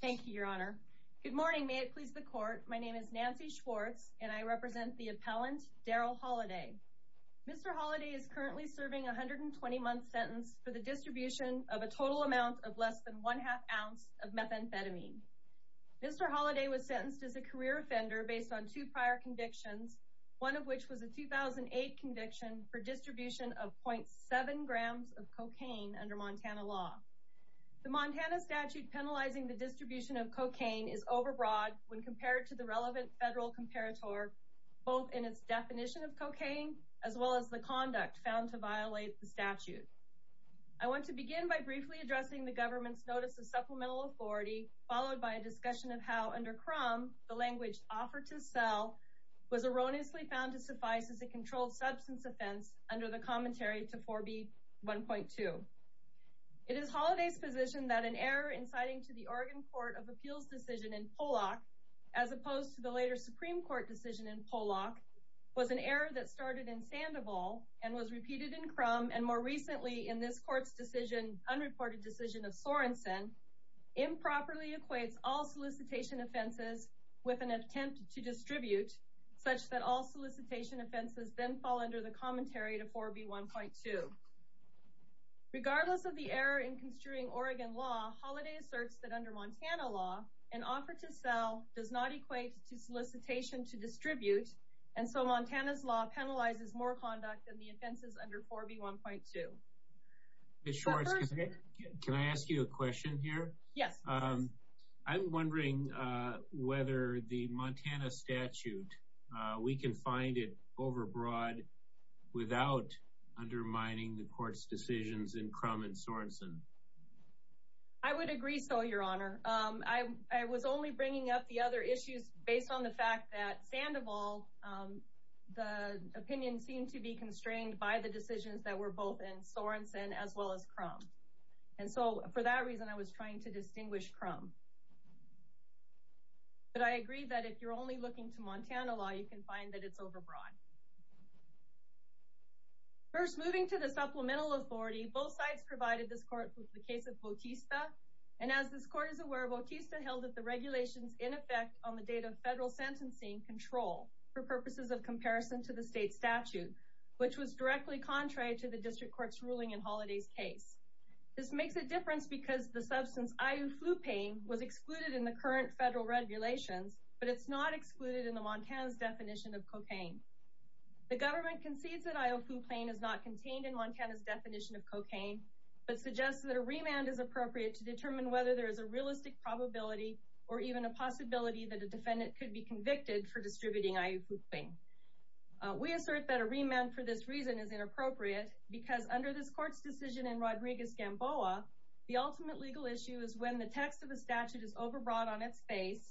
Thank you your honor. Good morning may it please the court my name is Nancy Schwartz and I represent the appellant Darrell Holliday. Mr. Holliday is currently serving a hundred and twenty month sentence for the distribution of a total amount of less than one half ounce of methamphetamine. Mr. Holliday was sentenced as a career offender based on two prior convictions one of which was a 2008 conviction for distribution of 0.7 grams of cocaine under Montana law. The Montana statute penalizing the distribution of cocaine is overbroad when compared to the relevant federal comparator both in its definition of cocaine as well as the conduct found to violate the statute. I want to begin by briefly addressing the government's notice of supplemental authority followed by a discussion of how under crumb the language offer to sell was erroneously found to suffice as a controlled substance offense under the commentary to 4b 1.2. It is Holliday's position that an error inciting to the Oregon Court of Appeals decision in Pollock as opposed to the later Supreme Court decision in Pollock was an error that started in Sandoval and was repeated in crumb and more recently in this court's decision unreported decision of Sorenson improperly equates all solicitation offenses with an attempt to distribute such that all solicitation offenses then fall under the commentary to 4b 1.2. Regardless of the error in construing Oregon law, Holliday asserts that under Montana law an offer to sell does not equate to solicitation to distribute and so Montana's law penalizes more conduct than the offenses under 4b 1.2. Ms. Schwartz, can I ask you a question here? Yes. I'm wondering whether the Montana statute we can find it overbroad without undermining the court's decisions in crumb and Sorenson. I would agree so your honor. I was only bringing up the other issues based on the fact that Sandoval the opinion seemed to be constrained by the decisions that were both in Sorenson as well as crumb and so for that reason I was trying to distinguish crumb but I agree that if you're only looking to Montana law you can find that it's overbroad. First moving to the supplemental authority both sides provided this court with the case of Bautista and as this court is aware Bautista held that the regulations in effect on the date of federal sentencing control for purposes of comparison to the state statute which was directly contrary to the district courts ruling in holidays case. This makes a difference because the substance iuflupane was excluded in the current federal regulations but it's not excluded in the Montana's definition of cocaine. The government concedes that iuflupane is not contained in Montana's definition of cocaine but suggests that a remand is appropriate to determine whether there is a realistic probability or even a possibility that a defendant could be convicted for distributing iuflupane. We assert that a remand for this reason is inappropriate because under this court's decision in Rodriguez-Gamboa the ultimate legal issue is when the text of the statute is overbroad on its face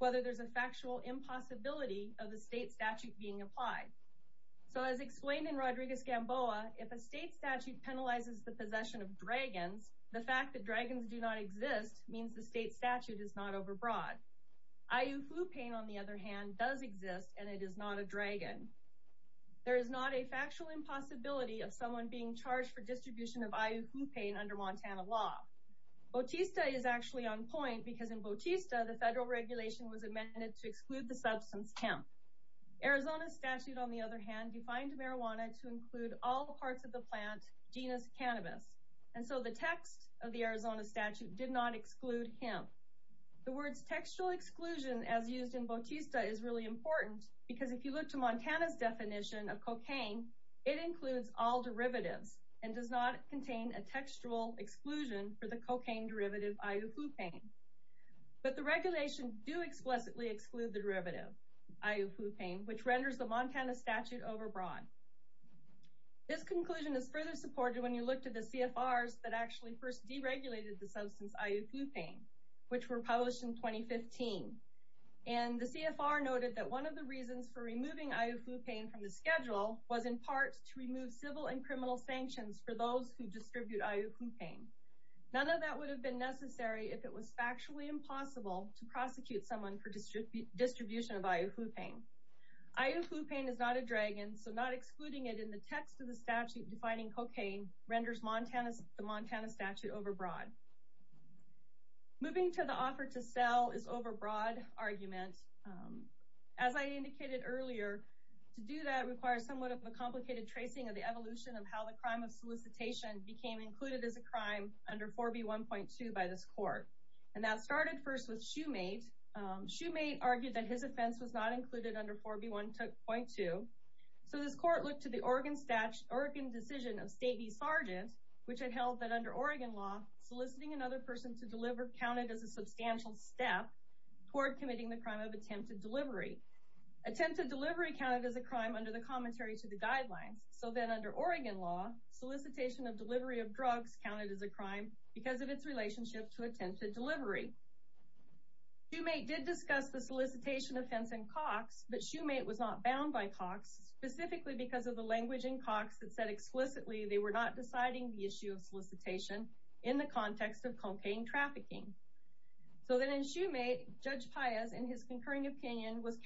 whether there's a factual impossibility of the state statute being applied. So as explained in Rodriguez-Gamboa if a state statute penalizes the possession of dragons the fact that dragons do not exist means the state statute is not overbroad. iuflupane on the other hand does exist and it is not a dragon. There is not a charge for distribution of iuflupane under Montana law. Bautista is actually on point because in Bautista the federal regulation was amended to exclude the substance hemp. Arizona statute on the other hand defined marijuana to include all the parts of the plant genus cannabis and so the text of the Arizona statute did not exclude hemp. The words textual exclusion as used in Bautista is really important because if you look to Montana's definition of cocaine it does not contain a textual exclusion for the cocaine derivative iuflupane but the regulation do explicitly exclude the derivative iuflupane which renders the Montana statute overbroad. This conclusion is further supported when you look to the CFRs that actually first deregulated the substance iuflupane which were published in 2015 and the CFR noted that one of the reasons for removing iuflupane from the schedule was in part to remove civil and criminal sanctions for those who distribute iuflupane. None of that would have been necessary if it was factually impossible to prosecute someone for distribution of iuflupane. iuflupane is not a dragon so not excluding it in the text of the statute defining cocaine renders the Montana statute overbroad. Moving to the offer to sell is overbroad argument. As I indicated earlier to do that requires somewhat of a complicated tracing of the evolution of how the crime of solicitation became included as a crime under 4B1.2 by this court. And that started first with Shoemate. Shoemate argued that his offense was not included under 4B1.2. So this court looked to the Oregon decision of State v. Sargent which had held that under Oregon law soliciting another person to deliver counted as a substantial step toward committing the crime of attempted delivery. Attempted delivery counted as a crime under the commentary to the guidelines. So then under Oregon law solicitation of delivery of drugs counted as a crime because of its relationship to attempted delivery. Shoemate did discuss the solicitation offense in Cox but Shoemate was not bound by Cox specifically because of the language in Cox that said explicitly they were not deciding the issue of solicitation in the context of cocaine trafficking. So then in Shoemate Judge Paez in his concurring opinion was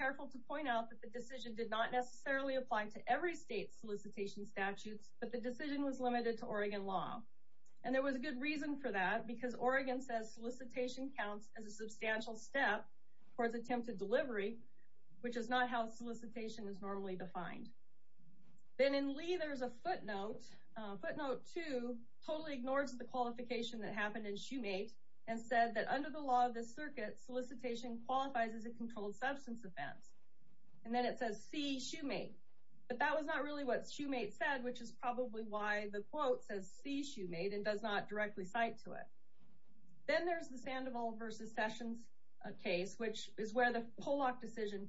not necessarily applying to every state solicitation statutes but the decision was limited to Oregon law. And there was a good reason for that because Oregon says solicitation counts as a substantial step towards attempted delivery which is not how solicitation is normally defined. Then in Lee there's a footnote. Footnote 2 totally ignores the qualification that happened in Shoemate and said that under the law of the circuit solicitation qualifies as a Shoemate. But that was not really what Shoemate said which is probably why the quote says see Shoemate and does not directly cite to it. Then there's the Sandoval versus Sessions case which is where the Pollock decision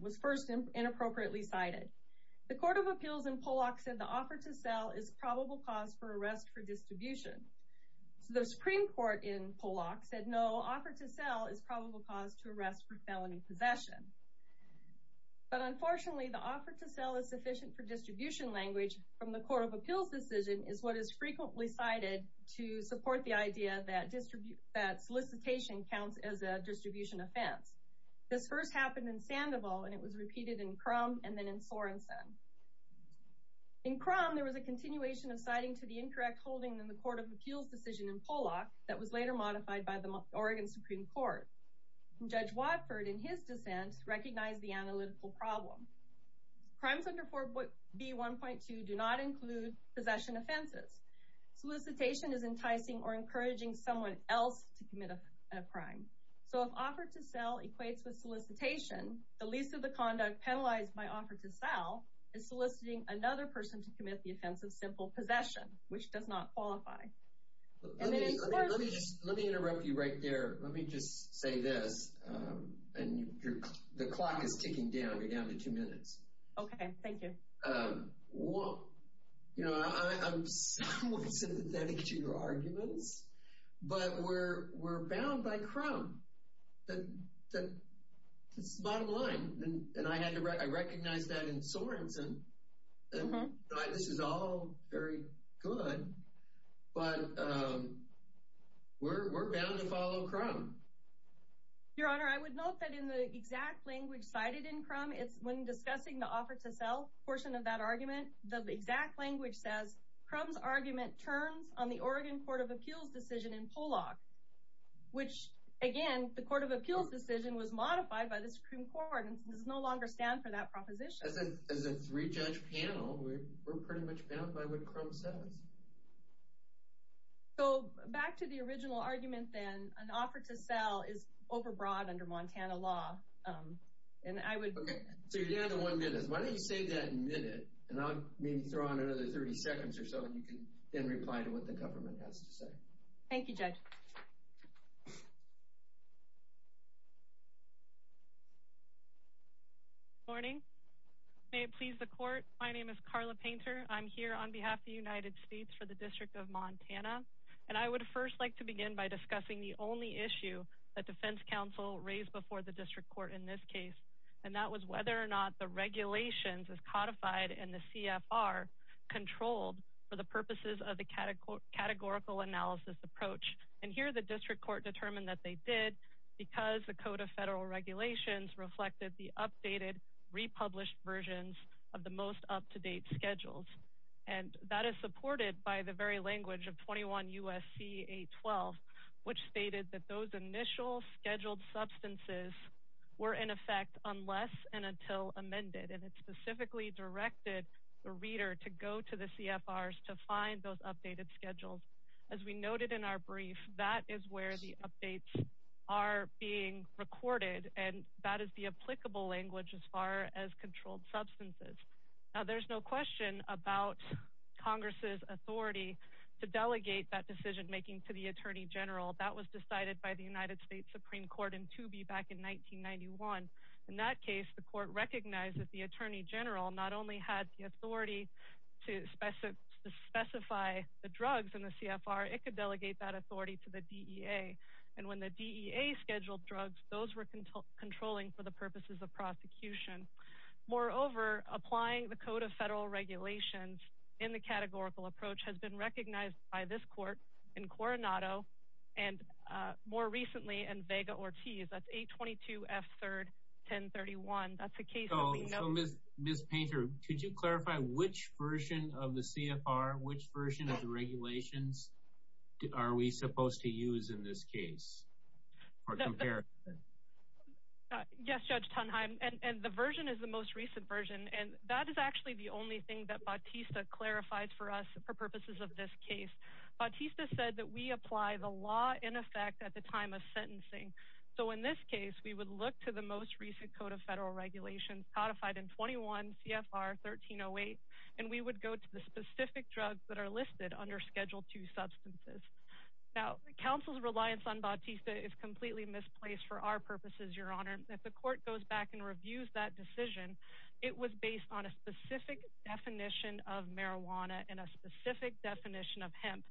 was first inappropriately cited. The Court of Appeals in Pollock said the offer to sell is probable cause for arrest for distribution. So the Supreme Court in Pollock said no offer to sell is probable cause to arrest for felony possession. But unfortunately the offer to sell is sufficient for distribution language from the Court of Appeals decision is what is frequently cited to support the idea that distribution that solicitation counts as a distribution offense. This first happened in Sandoval and it was repeated in Crum and then in Sorensen. In Crum there was a continuation of citing to the incorrect holding in the Court of Appeals decision in Pollock that was later modified by recognize the analytical problem. Crimes under 4B1.2 do not include possession offenses. Solicitation is enticing or encouraging someone else to commit a crime. So if offer to sell equates with solicitation the least of the conduct penalized by offer to sell is soliciting another person to commit the offense of simple possession which does not qualify. Let me interrupt you right there let me just say this and the clock is ticking down we're down to two minutes. Okay thank you. Well you know I'm sympathetic to your arguments but we're we're bound by Crum. That's the bottom line and I had to recognize that in Your Honor I would note that in the exact language cited in Crum it's when discussing the offer to sell portion of that argument the exact language says Crum's argument turns on the Oregon Court of Appeals decision in Pollock which again the Court of Appeals decision was modified by the Supreme Court and does no longer stand for that proposition. As a three-judge panel we're an offer to sell is overbroad under Montana law and I would. Okay so you're down to one minute. Why don't you save that minute and I'll maybe throw on another 30 seconds or so and you can then reply to what the government has to say. Thank you judge. Good morning. May it please the court my name is Carla Painter I'm here on behalf of the United States for the District of Montana and I would first like to begin by discussing the only issue that defense counsel raised before the district court in this case and that was whether or not the regulations as codified in the CFR controlled for the purposes of the categorical analysis approach and here the district court determined that they did because the Code of Federal Regulations reflected the updated republished versions of the most up-to-date schedules and that is supported by the very language of 21 USC 812 which stated that those initial scheduled substances were in effect unless and until amended and it specifically directed the reader to go to the CFRs to find those updated schedules as we noted in our brief that is where the updates are being recorded and that is the applicable language as far as controlled substances now there's no question about Congress's authority to delegate that decision-making to the Attorney General that was decided by the United States Supreme Court in to be back in 1991 in that case the court recognized that the Attorney General not only had the authority to specify the drugs in the CFR it could delegate that authority to the DEA and when the DEA scheduled drugs those were controlling for the purposes of prosecution moreover applying the Code of Federal Regulations in the categorical approach has been recognized by this court in Coronado and more recently and Vega Ortiz that's 822 F 3rd 1031 that's a case oh miss miss painter could you clarify which version of the CFR which regulations are we supposed to use in this case yes judge Tonheim and the version is the most recent version and that is actually the only thing that Bautista clarified for us for purposes of this case Bautista said that we apply the law in effect at the time of sentencing so in this case we would look to the most recent Code of Federal Regulations codified in 21 CFR 1308 and we would go to the specific drugs that are listed under Schedule 2 substances now counsel's reliance on Bautista is completely misplaced for our purposes your honor if the court goes back and reviews that decision it was based on a specific definition of marijuana and a specific definition of hemp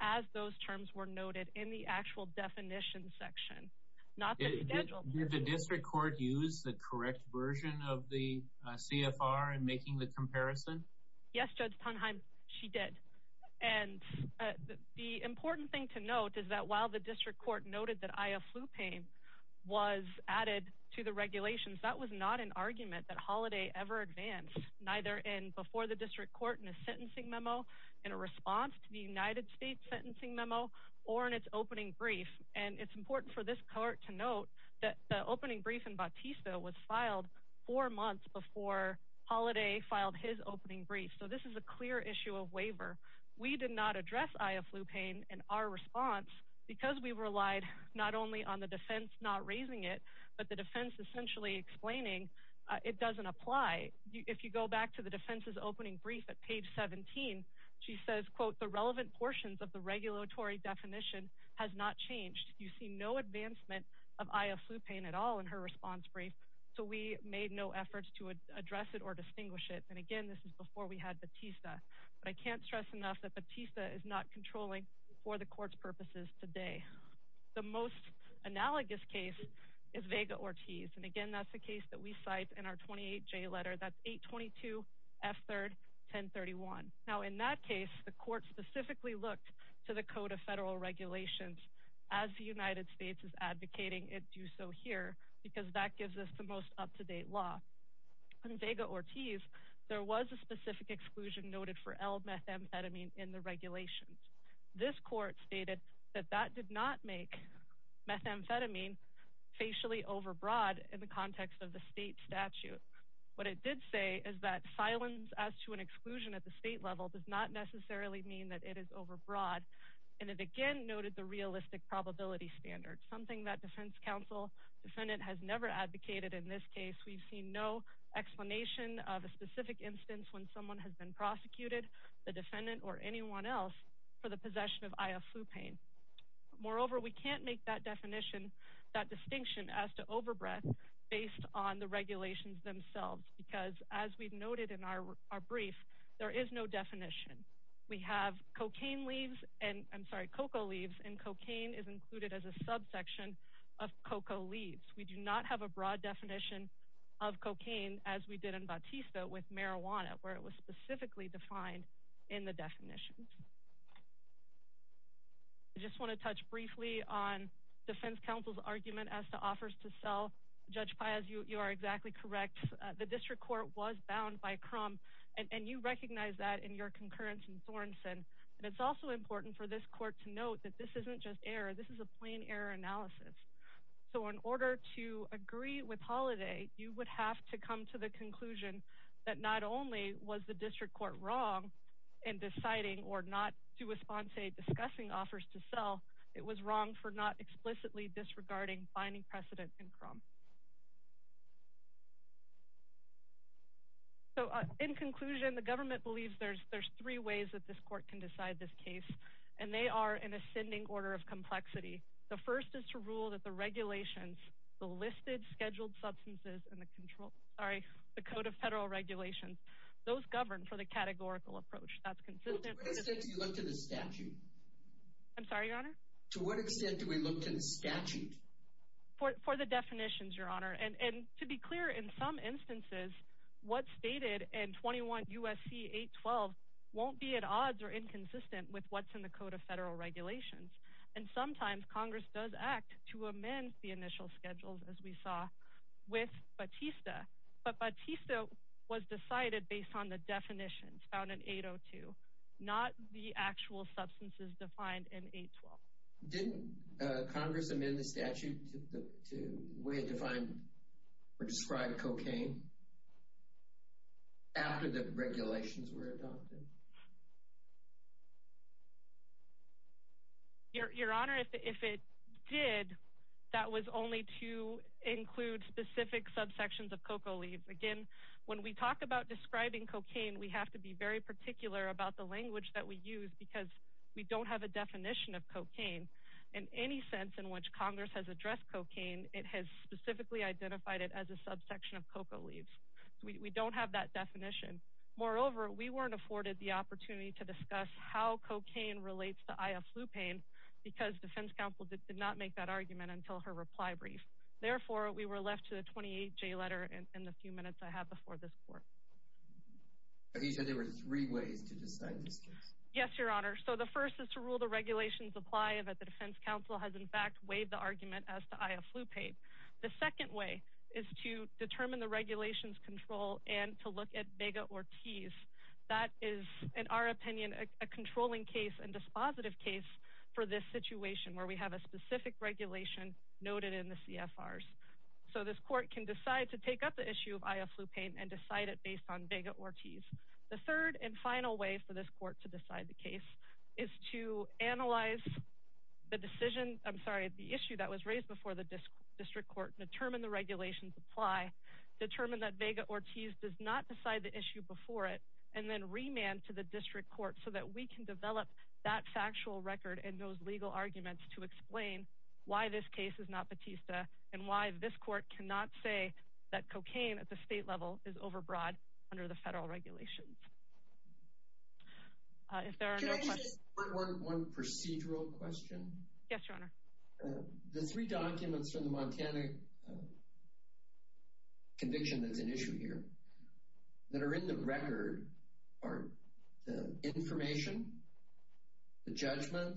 as those terms were noted in the actual definition section not the district court used the correct version of the CFR and making the comparison yes judge Tonheim she did and the important thing to note is that while the district court noted that I have flu pain was added to the regulations that was not an argument that holiday ever advanced neither in before the district court in a sentencing memo in a response to the United States sentencing memo or in its brief and it's important for this court to note that the opening brief and Bautista was filed four months before holiday filed his opening brief so this is a clear issue of waiver we did not address I have flu pain and our response because we relied not only on the defense not raising it but the defense essentially explaining it doesn't apply if you go back to the defense's opening brief at page 17 she says quote the relevant portions of the regulatory definition has not changed you see no advancement of I have flu pain at all in her response brief so we made no efforts to address it or distinguish it and again this is before we had Bautista but I can't stress enough that Bautista is not controlling for the court's purposes today the most analogous case is Vega Ortiz and again that's the case that we cite in our 28 J letter that's 822 f look to the code of federal regulations as the United States is advocating it do so here because that gives us the most up-to-date law and Vega Ortiz there was a specific exclusion noted for L methamphetamine in the regulations this court stated that that did not make methamphetamine facially overbroad in the context of the state statute what it did say is that silence as to an it is overbroad and it again noted the realistic probability standard something that defense counsel defendant has never advocated in this case we've seen no explanation of a specific instance when someone has been prosecuted the defendant or anyone else for the possession of I have flu pain moreover we can't make that definition that distinction as to overbred based on the regulations themselves because as we've noted in our brief there is no definition we have cocaine leaves and I'm sorry cocoa leaves and cocaine is included as a subsection of cocoa leaves we do not have a broad definition of cocaine as we did in Bautista with marijuana where it was specifically defined in the definition just want to touch briefly on defense counsel's argument as to offers to sell judge Piaz you are exactly correct the district court was bound by crumb and you recognize that in your concurrence and Thornson and it's also important for this court to note that this isn't just error this is a plain error analysis so in order to agree with holiday you would have to come to the conclusion that not only was the district court wrong in deciding or not to respond say discussing offers to sell it was wrong for not explicitly disregarding finding precedent in crumb so in conclusion the government believes there's there's three ways that this court can decide this case and they are in ascending order of complexity the first is to rule that the regulations the listed scheduled substances and the control sorry the Code of Federal Regulations those govern for the categorical approach that's consistent to the statute for the definitions your honor and and to be clear in some instances what's stated and 21 USC 812 won't be at odds or inconsistent with what's in the Code of Federal Regulations and sometimes Congress does act to amend the initial schedules as we saw with Batista but Batista was decided based on the definitions found in 802 not the actual substances defined in 812 didn't Congress amend the statute to define or describe cocaine after the regulations were adopted your honor if it did that was only to include specific subsections of coca leaves again when we talk about describing cocaine we have to be very particular about the language that we use because we don't have a definition of cocaine in any sense in which Congress has addressed cocaine it has specifically identified it as a subsection of coca leaves we don't have that definition moreover we weren't afforded the opportunity to discuss how cocaine relates to I a flu pain because defense counsel did not make that argument until her reply brief therefore we were left to the 28 J letter and in the few minutes I have before this court there were three ways to decide yes your honor so the first is to rule the regulations apply that the defense counsel has in fact waived the argument as to I a flu paid the second way is to determine the regulations control and to look at Vega Ortiz that is in our opinion a controlling case and this situation where we have a specific regulation noted in the CFR so this court can decide to take up the issue of I a flu pain and decide it based on Vega Ortiz the third and final way for this court to decide the case is to analyze the decision I'm sorry the issue that was raised before the district court determine the regulations apply determine that Vega Ortiz does not decide the issue before it and then remand to the district court so that we can develop that factual record and those legal arguments to explain why this case is not Batista and why this court cannot say that cocaine at the state level is overbroad under the federal regulations one procedural question yes your honor the three documents from the Montana conviction that's an issue here that are in the record or the information the judgment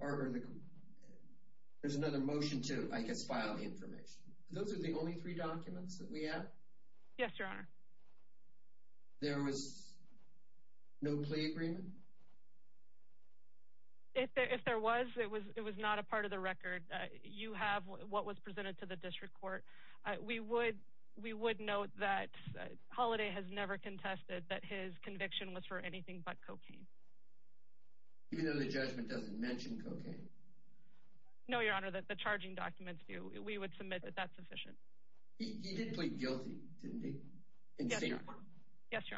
or there's another motion to I guess file the information those are the only three documents that we have yes your honor there was no agreement if there was it was it was not a part of the record that you have what was presented to the district court we would we would note that holiday has never contested that his conviction was for anything but cocaine you know the judgment doesn't mention cocaine no your honor that the charging documents do we would submit that that's efficient guilty yes your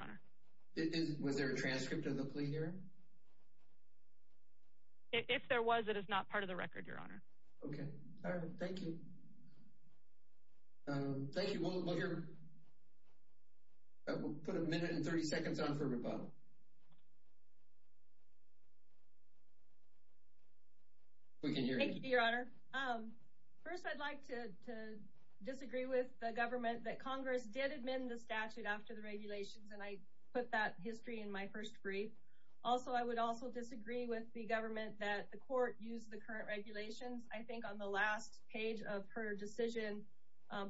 honor it was there a transcript of the plea here if there was it is not part of the record your honor okay thank you thank you put a minute and 30 seconds on for rebuttal we can disagree with the government that Congress did amend the statute after the regulations and I put that history in my first brief also I would also disagree with the government that the court used the current regulations I think on the last page of her decision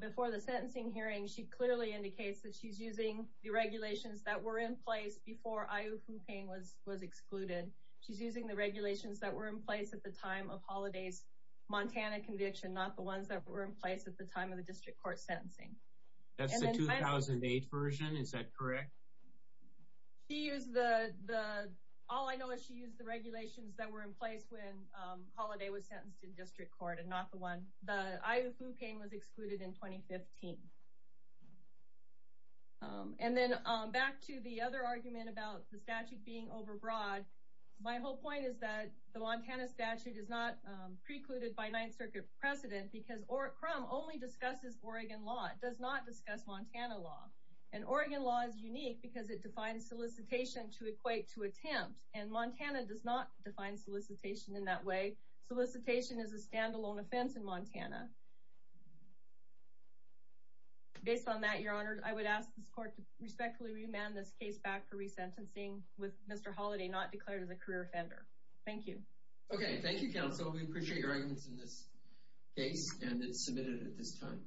before the sentencing hearing she clearly indicates that she's using the regulations that were in place before I who pain was was excluded she's using the regulations that were in place at the time of the district court sentencing that's the 2008 version is that correct he is the all I know is she used the regulations that were in place when holiday was sentenced in district court and not the one the I who pain was excluded in 2015 and then back to the other argument about the statute being overbroad my whole point is that the Montana statute is not precluded by Ninth Circuit precedent because or crumb only discusses Oregon law it does not discuss Montana law and Oregon law is unique because it defines solicitation to equate to attempt and Montana does not define solicitation in that way solicitation is a standalone offense in Montana based on that your honor I would ask this court to respectfully remand this case back for resentencing with mr. holiday not declared as a career offender thank you okay thank you so we appreciate your items in this case and it's submitted at this time